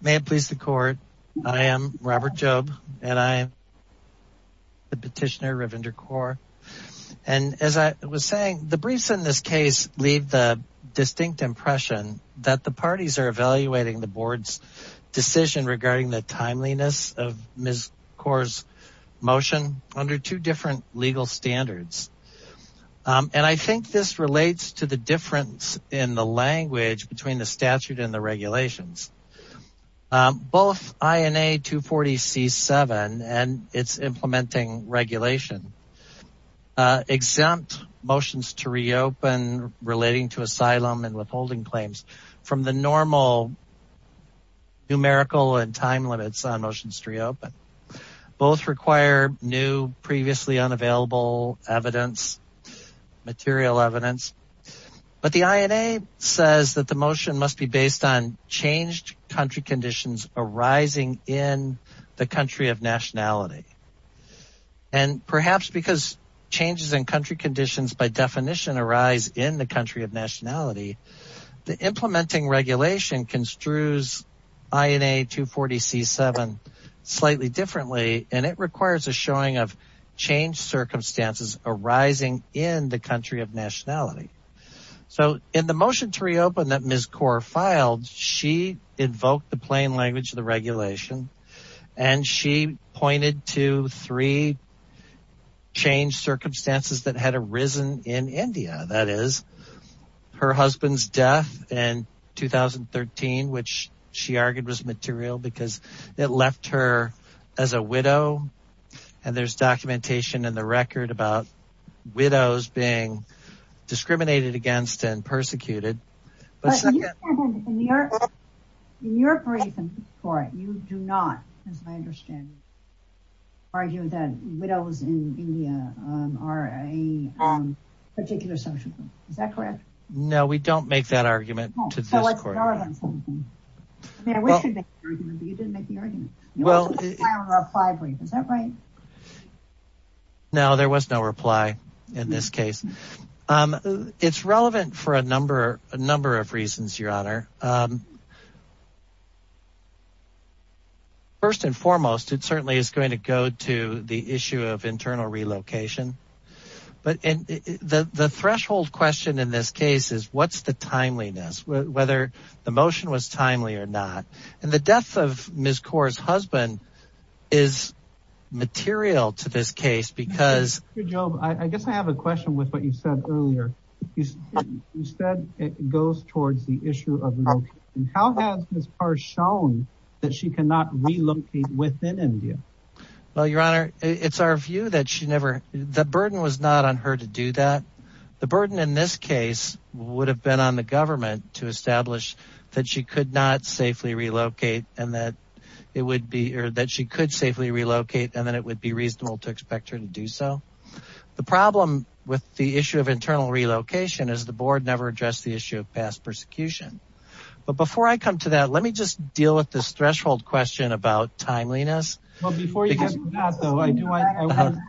May it please the court I am Robert Jobe and I am the petitioner Ravinder Kaur and as I was saying the briefs in this case leave the distinct impression that the parties are evaluating the board's decision regarding the timeliness of Ms. Kaur's motion under two different legal standards and I think this relates to the difference in the language between the statute and the regulations both INA 240 c7 and its implementing regulation exempt motions to reopen relating to asylum and withholding claims from the normal numerical and time limits on motions to reopen both require new previously unavailable evidence material evidence but the changed country conditions arising in the country of nationality and perhaps because changes in country conditions by definition arise in the country of nationality the implementing regulation construes INA 240 c7 slightly differently and it requires a showing of circumstances arising in the country of nationality so in the motion to reopen that Ms. Kaur filed she invoked the plain language of the regulation and she pointed to three changed circumstances that had arisen in India that is her husband's death in 2013 which she about widows being discriminated against and persecuted in your in your brief and for it you do not as I understand argue that widows in India are a particular social group is that correct no we don't make that argument to this court on something I mean I wish you'd make the argument but you didn't make the argument well is that right no there was no reply in this case um it's relevant for a number a number of reasons your honor um first and foremost it certainly is going to go to the issue of internal relocation but and the the threshold question in this case is what's the motion was timely or not and the death of Ms. Kaur's husband is material to this case because I guess I have a question with what you said earlier you said it goes towards the issue of how has Ms. Kaur shown that she cannot relocate within India well your honor it's our view that she never the burden was not on her to do that the burden in this case would have been on the that she could not safely relocate and that it would be or that she could safely relocate and then it would be reasonable to expect her to do so the problem with the issue of internal relocation is the board never addressed the issue of past persecution but before I come to that let me just deal with this threshold question about timeliness well before you get to that though I want to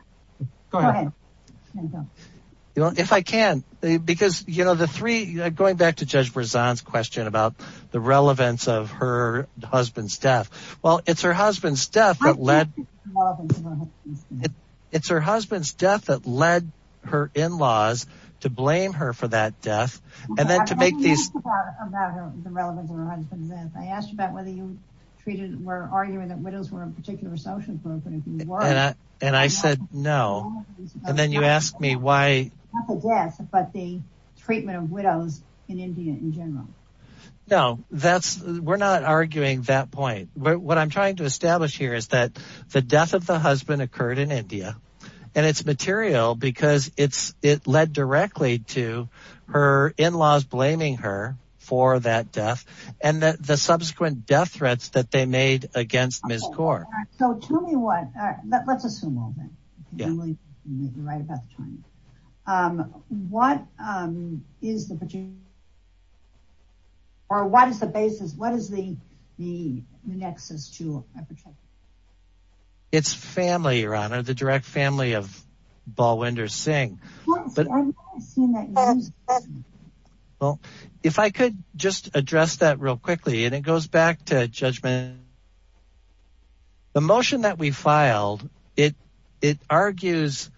go ahead you know if I can because you know the three going back to Judge Brazan's question about the relevance of her husband's death well it's her husband's death that led it's her husband's death that led her in-laws to blame her for that death and then to make these I asked about whether you treated were arguing that widows were a particular social group and I said no and then you asked me why not the death but the treatment of widows in India in general no that's we're not arguing that point but what I'm trying to establish here is that the death of the husband occurred in India and it's material because it's it led directly to her in-laws blaming her for that death and that the subsequent death threats that they made against Ms. Gore so tell me what let's assume all right about the time what is the or what is the basis what is the the nexus to it's family your honor the direct family of Balwinder Singh but well if I could just address that real quickly and it goes back to judgment the motion that we filed it it argues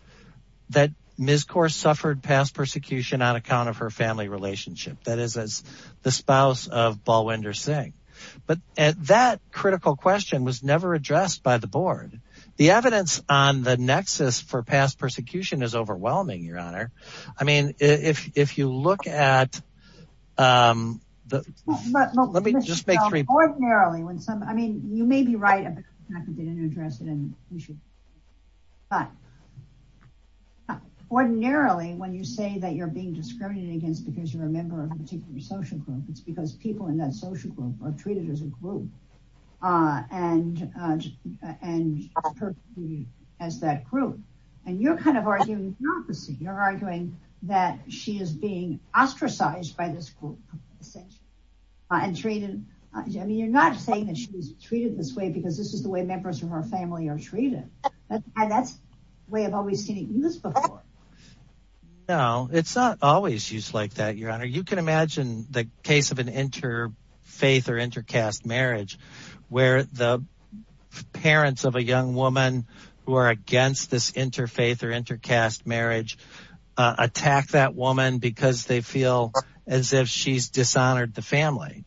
that Ms. Gore suffered past persecution on account of her family relationship that is as the spouse of Balwinder Singh but at that critical question was never addressed by the board the evidence on the nexus for past persecution is overwhelming your honor I mean if if you look at um let me just make three ordinarily when some I mean you may be right but ordinarily when you say that you're being discriminated against because you're a member of a particular social group it's because people in that social group are treated as a group uh and uh and as that group and you're kind of arguing hypocrisy you're arguing that she is being ostracized by this group essentially and treated I mean you're not saying that she was treated this way because this is the way members of her family are treated and that's the way I've always seen it used before no it's not always used like that your honor you can imagine the case of interfaith or intercaste marriage where the parents of a young woman who are against this interfaith or intercaste marriage attack that woman because they feel as if she's dishonored the family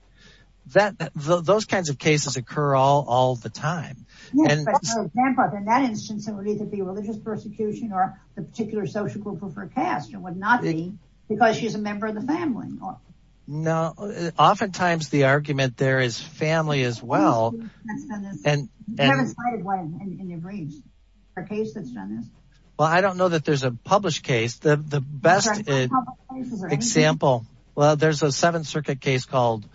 that those kinds of cases occur all all the time and in that instance it would either be religious persecution or the particular social group of her caste it would not be because she's a member of the family no oftentimes the argument there is family as well and and in your briefs a case that's done this well I don't know that there's a published case the the best example well there's a seventh circuit case called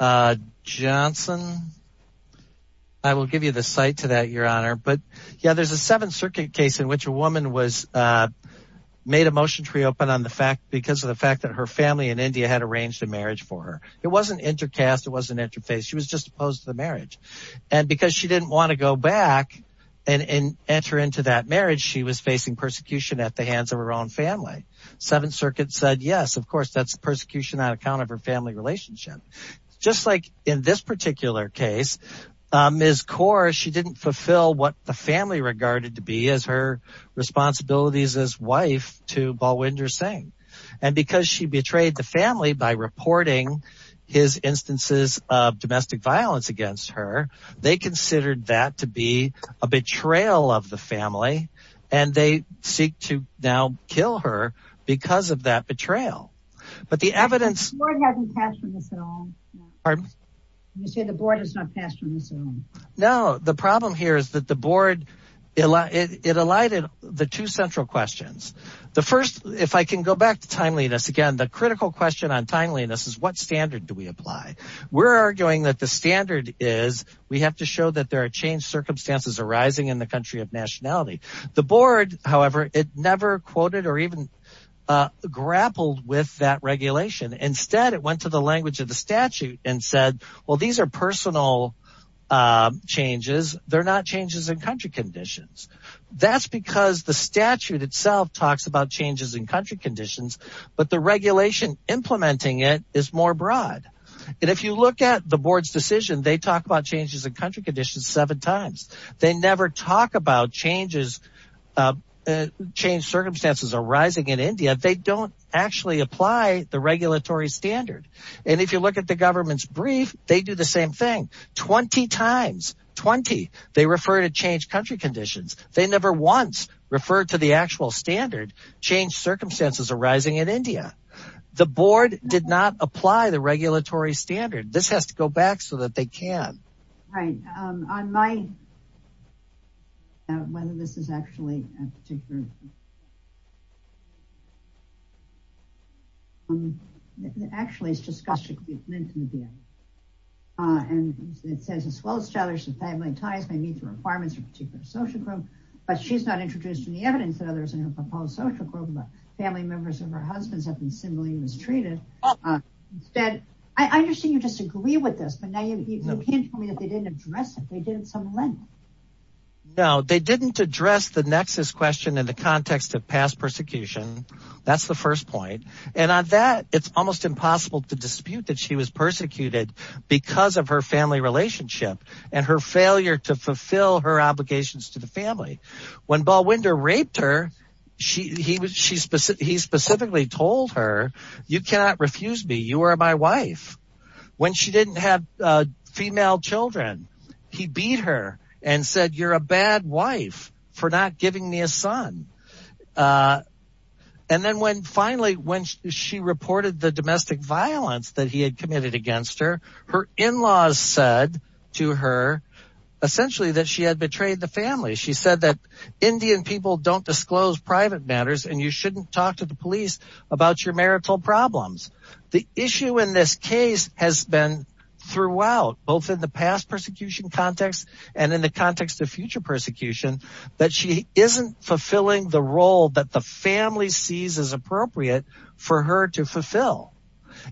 uh johnson I will give you the site to that your honor but yeah there's a seventh circuit case in which a woman was uh the fact because of the fact that her family in india had arranged a marriage for her it wasn't intercaste it wasn't interfaith she was just opposed to the marriage and because she didn't want to go back and enter into that marriage she was facing persecution at the hands of her own family seventh circuit said yes of course that's persecution on account of her family relationship just like in this particular case um is core she didn't fulfill what the family regarded to be as responsibilities as wife to balwinder singh and because she betrayed the family by reporting his instances of domestic violence against her they considered that to be a betrayal of the family and they seek to now kill her because of that betrayal but the evidence hasn't passed from this at all pardon you say the board has not passed from this at all no the problem here is that the board it alighted the two central questions the first if I can go back to timeliness again the critical question on timeliness is what standard do we apply we're arguing that the standard is we have to show that there are changed circumstances arising in the country of nationality the board however it never quoted or even uh grappled with that regulation instead it went to the language of the statute and said well these are personal uh changes they're not changes in country conditions that's because the statute itself talks about changes in country conditions but the regulation implementing it is more broad and if you look at the board's decision they talk about changes in country conditions seven times they never talk about changes uh change circumstances arising in india they don't actually apply the regulatory standard and if you look at the government's brief they do the same thing 20 times 20 they refer to change country conditions they never once referred to the actual standard change circumstances arising in india the board did not apply the regulatory standard this has to go back so that they can right um on my whether this is actually um actually it's disgusting uh and it says as well as each other's and family ties may meet the requirements of a particular social group but she's not introduced in the evidence that others in her proposed social group but family members of her husbands have been similarly mistreated instead i understand you disagree with this but now you can't tell me that they didn't address it they did at some level no they didn't address the nexus question in the context of past persecution that's the first point and on that it's almost impossible to dispute that she was persecuted because of her family relationship and her failure to fulfill her obligations to the family when ball winder raped her she he was she specifically told her you cannot refuse me you are my wife when she didn't have uh female children he beat her and said you're a bad wife for not giving me a son uh and then when finally when she reported the domestic violence that he had committed against her her in-laws said to her essentially that she had betrayed the family she said that indian people don't disclose private matters and you shouldn't talk to the police about your marital problems the issue in this case has been throughout both in the past persecution context and in the context of future persecution that she isn't fulfilling the role that the family sees as appropriate for her to fulfill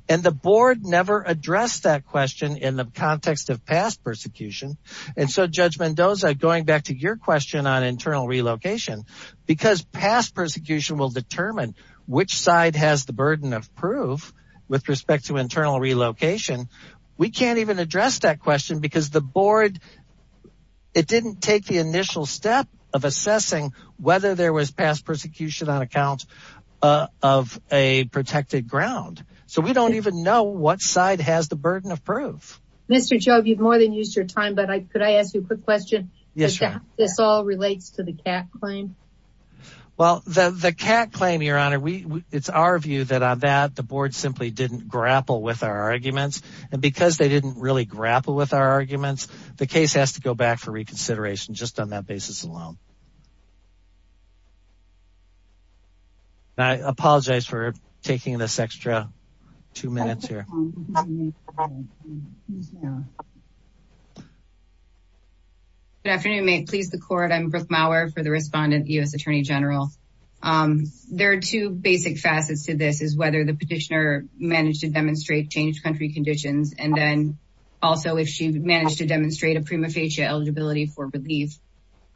and the board never addressed that question in the context of past persecution and so judge mendoza going back to your question on internal relocation because past persecution will determine which side has the burden of proof with respect to it didn't take the initial step of assessing whether there was past persecution on account of a protected ground so we don't even know what side has the burden of proof mr joe you've more than used your time but i could i ask you a quick question yes this all relates to the cat claim well the the cat claim your honor we it's our view that on that the board simply didn't grapple with our arguments and because they didn't really grapple with our arguments the case has to go back for reconsideration just on that basis alone i apologize for taking this extra two minutes here good afternoon may it please the court i'm brooke mauer for the respondent u.s attorney general um there are two basic facets to this is whether the petitioner managed to demonstrate changed conditions and then also if she managed to demonstrate a prima facie eligibility for relief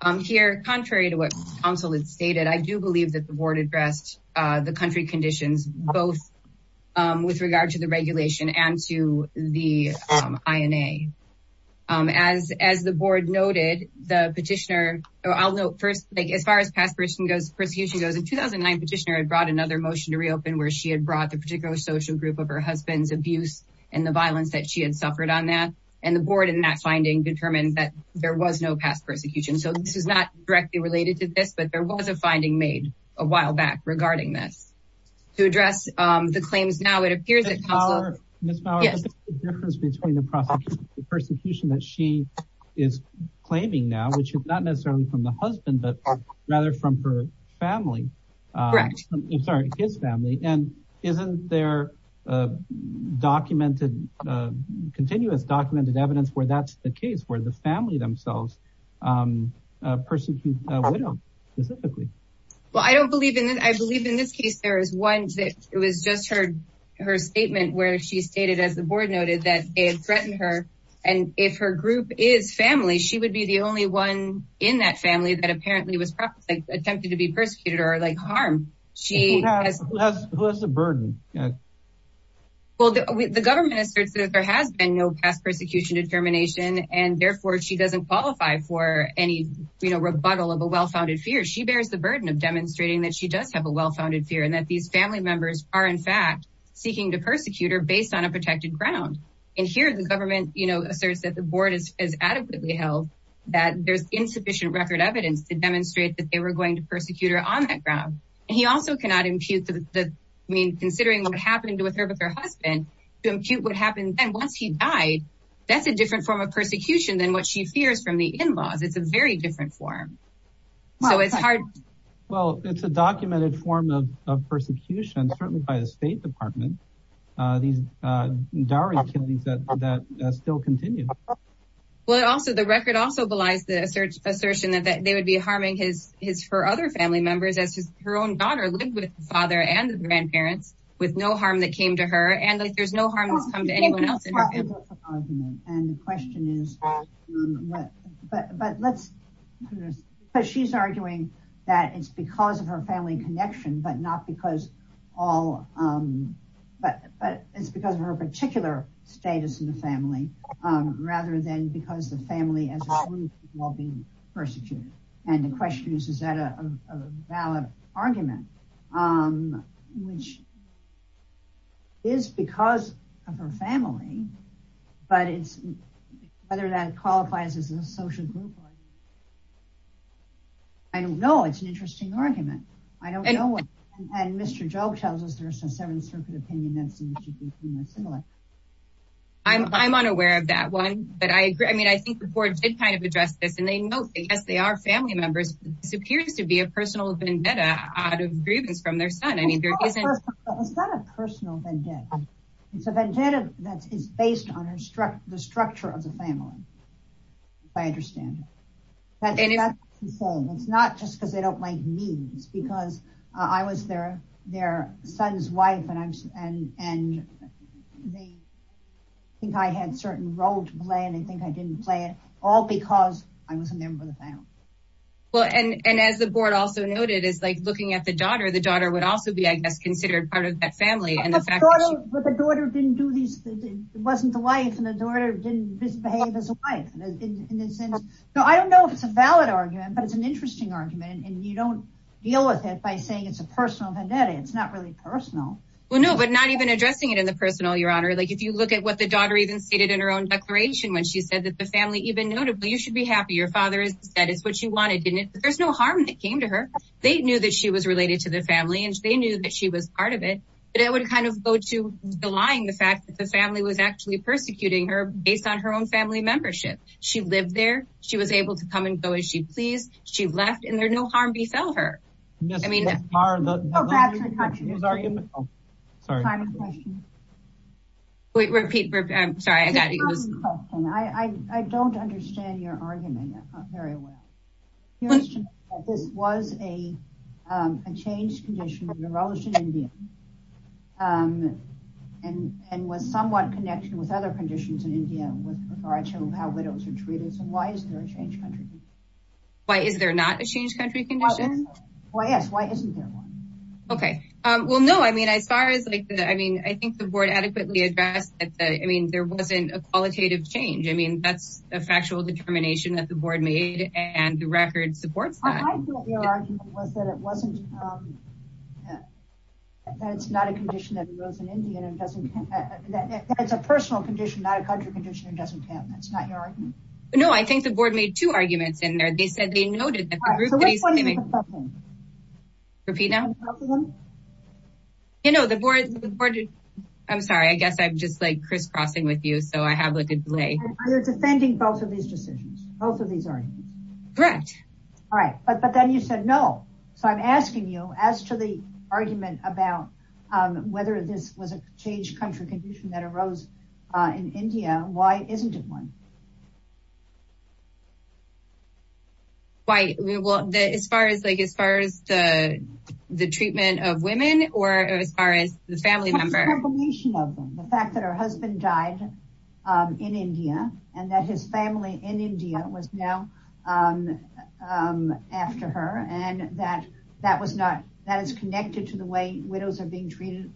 um here contrary to what counsel had stated i do believe that the board addressed uh the country conditions both um with regard to the regulation and to the um ina as as the board noted the petitioner i'll note first like as far as past person goes persecution goes in 2009 petitioner had brought another motion to reopen where she had brought the particular social group of her husband's abuse and the violence that she had suffered on that and the board in that finding determined that there was no past persecution so this is not directly related to this but there was a finding made a while back regarding this to address um the claims now it appears that miss power the difference between the prosecution the persecution that she is claiming now which is not necessarily from the husband but rather from her family correct i'm sorry his family and isn't there uh documented uh continuous documented evidence where that's the case where the family themselves um a person can uh widow specifically well i don't believe in it i believe in this case there is one that it was just her her statement where she stated as the board noted that they had threatened her and if her group is family she would be the only one in that family that apparently was probably attempted to be persecuted or like harm she has who has the burden yeah well the government asserts that there has been no past persecution determination and therefore she doesn't qualify for any you know rebuttal of a well-founded fear she bears the burden of demonstrating that she does have a well-founded fear and that these family members are in fact seeking to persecute her based on a protected ground and here the government you the board is adequately held that there's insufficient record evidence to demonstrate that they were going to persecute her on that ground and he also cannot impute the i mean considering what happened with her with her husband to impute what happened then once he died that's a different form of persecution than what she fears from the in-laws it's a very different form so it's hard well it's a documented form of persecution certainly by the state department uh these uh diary activities that that still continue well also the record also belies the assert assertion that that they would be harming his his her other family members as his her own daughter lived with the father and the grandparents with no harm that came to her and like there's no harm that's come to anyone else and the question is but but let's but she's arguing that it's because of her family connection but not because all um but but it's because of her particular status in the family um rather than because the family as well being persecuted and the question is is that a valid argument um which is because of her family but it's whether that qualifies as a argument i don't know it's an interesting argument i don't know what and mr joe tells us there's some seventh circuit opinion that's similar i'm i'm unaware of that one but i agree i mean i think the board did kind of address this and they know because they are family members this appears to be a personal vendetta out of grievance from their son i mean there isn't it's not a personal vendetta it's a vendetta that is based on her structure the structure of the family i understand that it's not just because they don't like me it's because i was their their son's wife and i'm and and they think i had certain role to play and they think i didn't play it all because i was a member of the family well and and as the board also noted is like looking at the daughter the daughter would also be i guess considered part of that family the daughter didn't do these it wasn't the wife and the daughter didn't misbehave as a wife so i don't know if it's a valid argument but it's an interesting argument and you don't deal with it by saying it's a personal vendetta it's not really personal well no but not even addressing it in the personal your honor like if you look at what the daughter even stated in her own declaration when she said that the family even notably you should be happy your father is said it's what she wanted didn't there's no harm that came to her they knew that she was related to the family and they knew that she was part of it but it would kind of go to the lying the fact that the family was actually persecuting her based on her own family membership she lived there she was able to come and go as she pleased she left and there no harm befell her i mean repeat i'm sorry i got it was i i don't understand your argument very well this was a um a changed condition in india um and and was somewhat connected with other conditions in india with regard to how widows are treated so why is there a change country why is there not a change country condition why yes why isn't there one okay um well no i mean as far as like i mean i think the board adequately addressed that i mean there wasn't a qualitative change i mean that's a factual determination that the board made and the record supports that your argument was that it wasn't um that it's not a condition that grows in india and doesn't that it's a personal condition not a country condition it doesn't count that's not your argument no i think the board made two arguments in there they said they noted that repeat now you know the board supported i'm sorry i guess i'm just like crisscrossing with you so i we're defending both of these decisions both of these arguments correct all right but but then you said no so i'm asking you as to the argument about um whether this was a changed country condition that arose uh in india why isn't it one why we will as far as like as far as the the treatment of women or as far as the family of them the fact that her husband died in india and that his family in india was now after her and that that was not that is connected to the way widows are being treated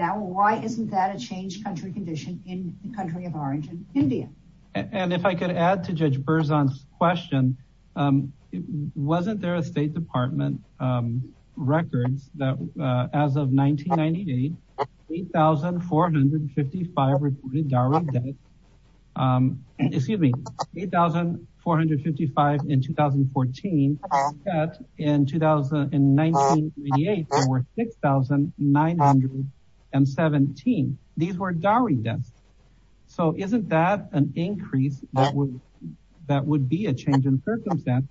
now why isn't that a changed country condition in the country of origin india and if i could add to judge berzon's question um wasn't there a state department um records that uh as of 1998 8 455 reported dowry debt um excuse me 8 455 in 2014 in 2019 there were 6 917 these were dowry so isn't that an increase that would that would be a change in circumstance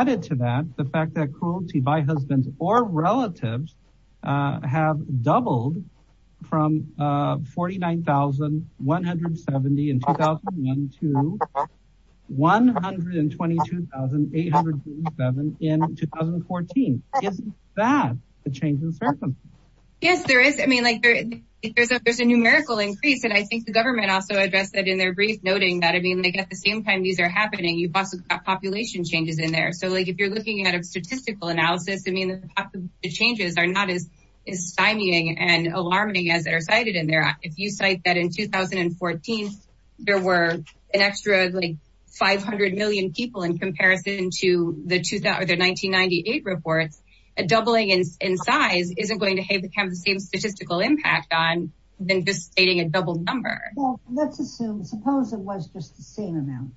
added to that the fact that cruelty by husbands or relatives uh have doubled from uh 49,170 in 2001 to 122,887 in 2014 is that a change in circumstance yes there is i mean like there is and i think the government also addressed that in their brief noting that i mean like at the same time these are happening you've also got population changes in there so like if you're looking at a statistical analysis i mean the changes are not as stymieing and alarming as are cited in there if you cite that in 2014 there were an extra like 500 million people in comparison to the 2000 1998 reports a doubling in size isn't going to have the same statistical impact on than just stating a double number well let's assume suppose it was just the same amount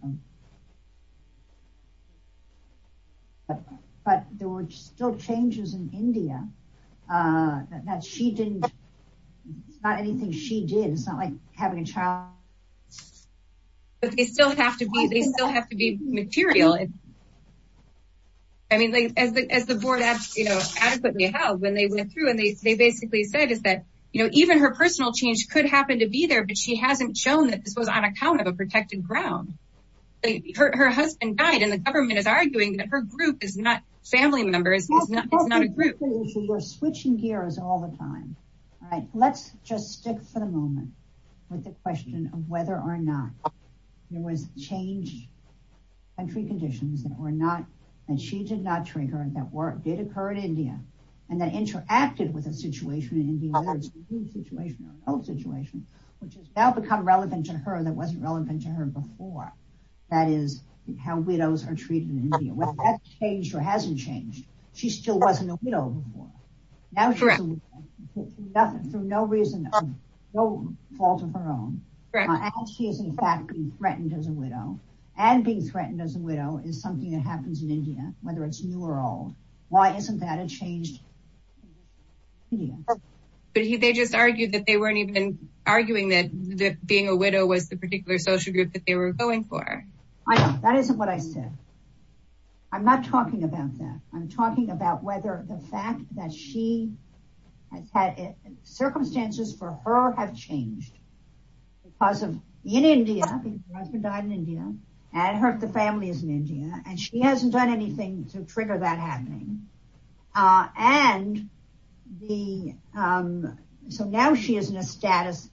but there were still changes in india uh that she didn't it's not anything she did it's not like having a child but they still have to be they still have to be material i mean like as the as the board has you know adequately held when they went through and they basically said is that you know even her personal change could happen to be there but she hasn't shown that this was on account of a protected ground her husband died and the government is arguing that her group is not family members it's not it's not a group we're switching gears all the time all right let's just stick for the moment with the question of whether or not there was change country conditions that were not and she did not trigger that work did occur in india and then interacted with a situation in india whether it's a new situation or an old situation which has now become relevant to her that wasn't relevant to her before that is how widows are treated in india whether that's changed or hasn't changed she still wasn't a widow before now she's nothing for no reason of no fault of her own and she is in fact being threatened as a widow and being threatened as a widow is something that happens in india whether it's new or old why isn't that it changed but they just argued that they weren't even arguing that being a widow was the particular social group that they were going for i know that isn't what i said i'm not talking about that i'm talking about whether the fact that she has had circumstances for her have changed because of in india because her husband died in india and her the family is in india and she hasn't done anything to trigger that happening uh and the um so now she is in a status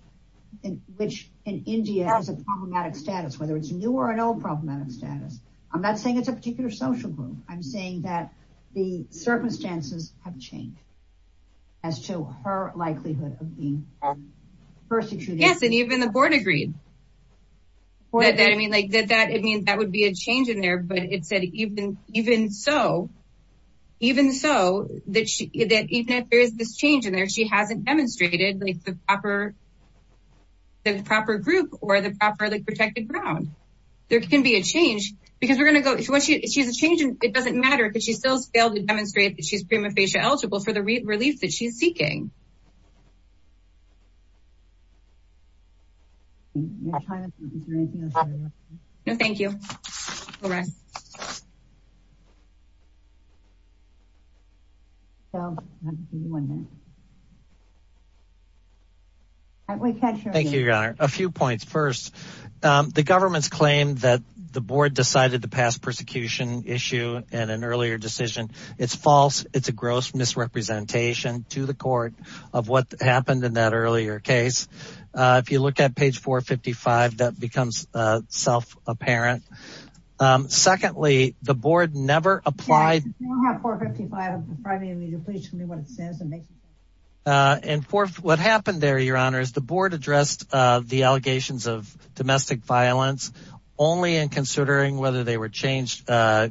in which in india has a problematic status whether it's new or an old problematic status i'm not saying it's a particular social group i'm saying that the circumstances have changed as to her likelihood of being persecuted yes and even the board agreed what did i mean like that that it means that would be a change in there but it said even even so even so that she that even if there is this change in there she hasn't demonstrated like the proper the proper group or the properly protected ground there can be a change because we're going to go she's a change and it doesn't matter because she still has failed to demonstrate that she's prima facie eligible for the relief that she's seeking anything no thank you all right so i'm just wondering thank you your honor a few points first um the government's claim that the board decided to pass persecution issue and an earlier decision it's false it's a gross misrepresentation to the that becomes uh self-apparent um secondly the board never applied and for what happened there your honor is the board addressed uh the allegations of domestic violence only in considering whether they were changed uh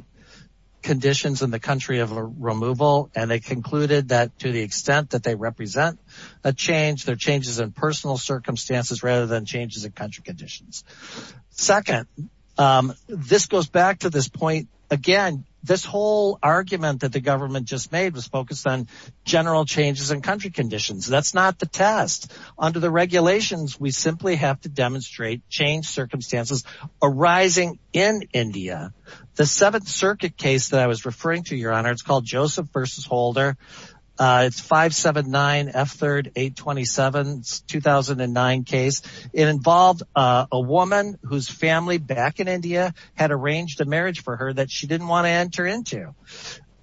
conditions in the country of removal and they concluded that to the extent that they represent a change their changes in personal circumstances rather than changes in country conditions second um this goes back to this point again this whole argument that the government just made was focused on general changes in country conditions that's not the test under the regulations we simply have to demonstrate change circumstances arising in india the seventh circuit case that i was referring to your honor called joseph versus holder uh it's 579 f3 827 2009 case it involved a woman whose family back in india had arranged a marriage for her that she didn't want to enter into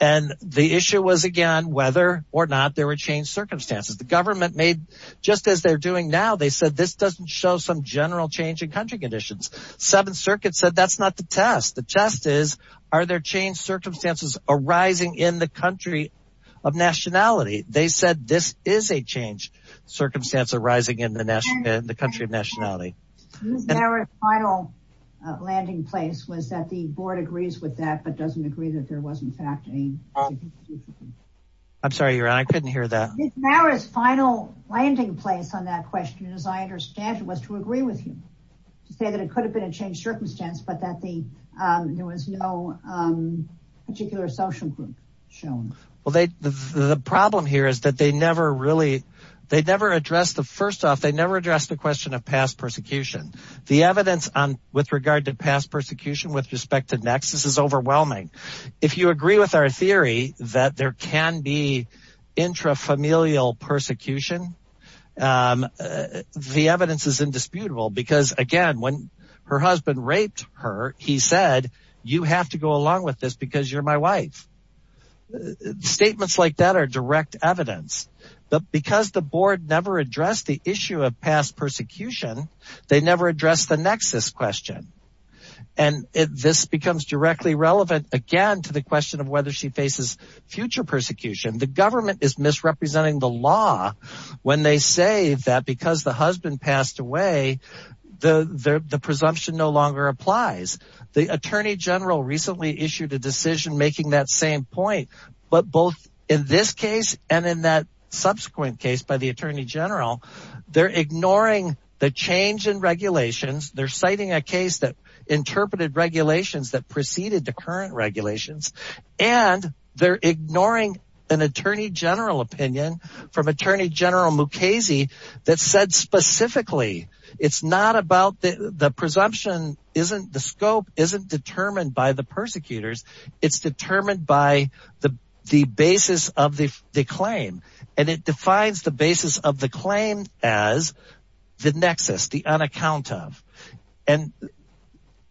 and the issue was again whether or not there were changed circumstances the government made just as they're doing now they said this doesn't show some general change in country conditions seventh circuit said that's the test the test is are there changed circumstances arising in the country of nationality they said this is a change circumstance arising in the national the country of nationality final landing place was that the board agrees with that but doesn't agree that there was in fact a i'm sorry your i couldn't hear that now his final landing place on that question as i understand it was to agree with you to say that it could have been a changed circumstance but that the um there was no um particular social group shown well they the problem here is that they never really they never addressed the first off they never addressed the question of past persecution the evidence on with regard to past persecution with respect to nexus is overwhelming if you agree with our theory that there can be intrafamilial persecution um the evidence is indisputable because again when her husband raped her he said you have to go along with this because you're my wife statements like that are direct evidence but because the board never addressed the issue of past persecution they never addressed the nexus question and this becomes directly relevant again to the question whether she faces future persecution the government is misrepresenting the law when they say that because the husband passed away the the presumption no longer applies the attorney general recently issued a decision making that same point but both in this case and in that subsequent case by the attorney general they're ignoring the change in regulations they're citing a case that interpreted regulations that preceded the current regulations and they're ignoring an attorney general opinion from attorney general mukasey that said specifically it's not about the the presumption isn't the scope isn't determined by the persecutors it's determined by the the basis of the the claim and it defines the basis of the claim as the nexus the unaccount of and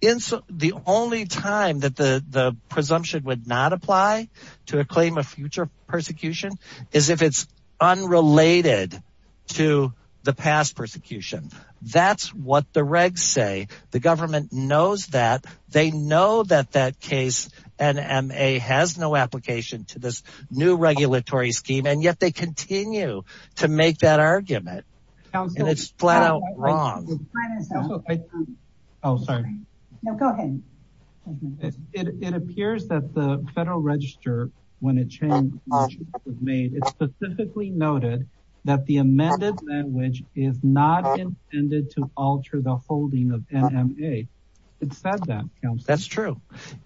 in the only time that the the presumption would not apply to a claim of future persecution is if it's unrelated to the past persecution that's what the regs say the government knows that they know that that case nma has no application to this new regulatory scheme and yet they continue to make that argument and it's flat out wrong oh sorry no go ahead it it appears that the federal register when a change was made it specifically noted that the amended language is not intended to alter the holding of nma it said that that's true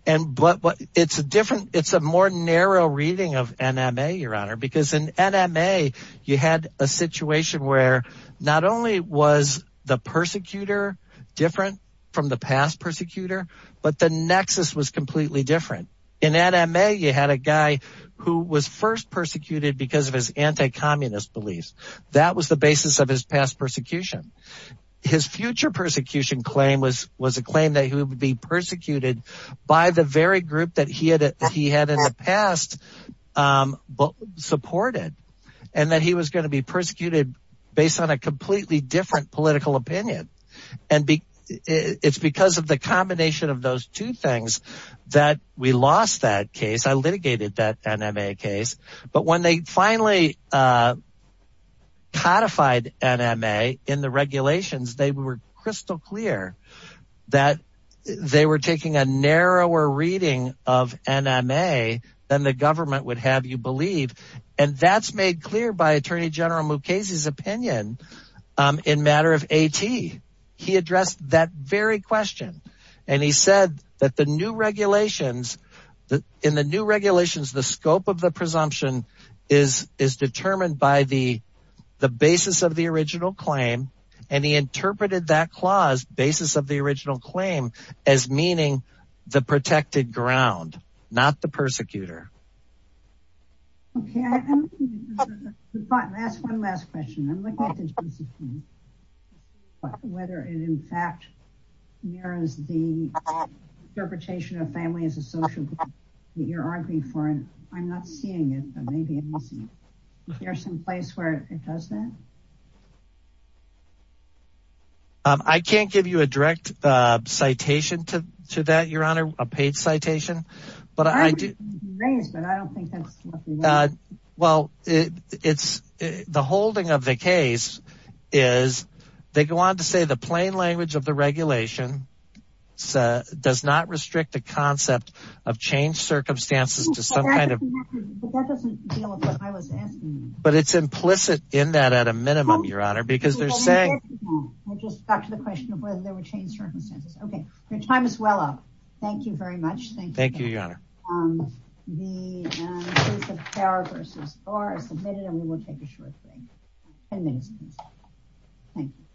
and but what it's a different it's a more narrow reading of nma your honor because in nma you had a situation where not only was the persecutor different from the past persecutor but the nexus was completely different in nma you had a guy who was first persecuted because of his anti-communist beliefs that was the basis of his past persecution his future persecution claim was was a claim that he would be persecuted by the very group that he had he had in the past um but supported and that he was going to be persecuted based on a completely different political opinion and it's because of the combination of those two things that we lost that case i litigated that nma case but when they finally uh codified nma in the regulations they were crystal clear that they were taking a narrower reading of nma than the government would have you believe and that's made clear by attorney general mukasey's opinion um in matter of at he addressed that very question and he said that the new regulations the in the new regulations the scope of the presumption is is determined by the the basis of the original claim and he interpreted that clause basis of the original claim as meaning the protected ground not the persecutor okay last one last question i'm looking at the interpretation of family as a social group that you're arguing for and i'm not seeing it but maybe there's some place where it does that um i can't give you a direct uh citation to to that your honor a paid citation but i do well it it's the holding of the case is they go on to say the plain language of the regulation so does not restrict the concept of changed circumstances to some kind of but it's implicit in that at a minimum your honor because they're saying i just got to the question of whether there were changed circumstances okay your time is well up thank you very much thank you thank you your honor um the you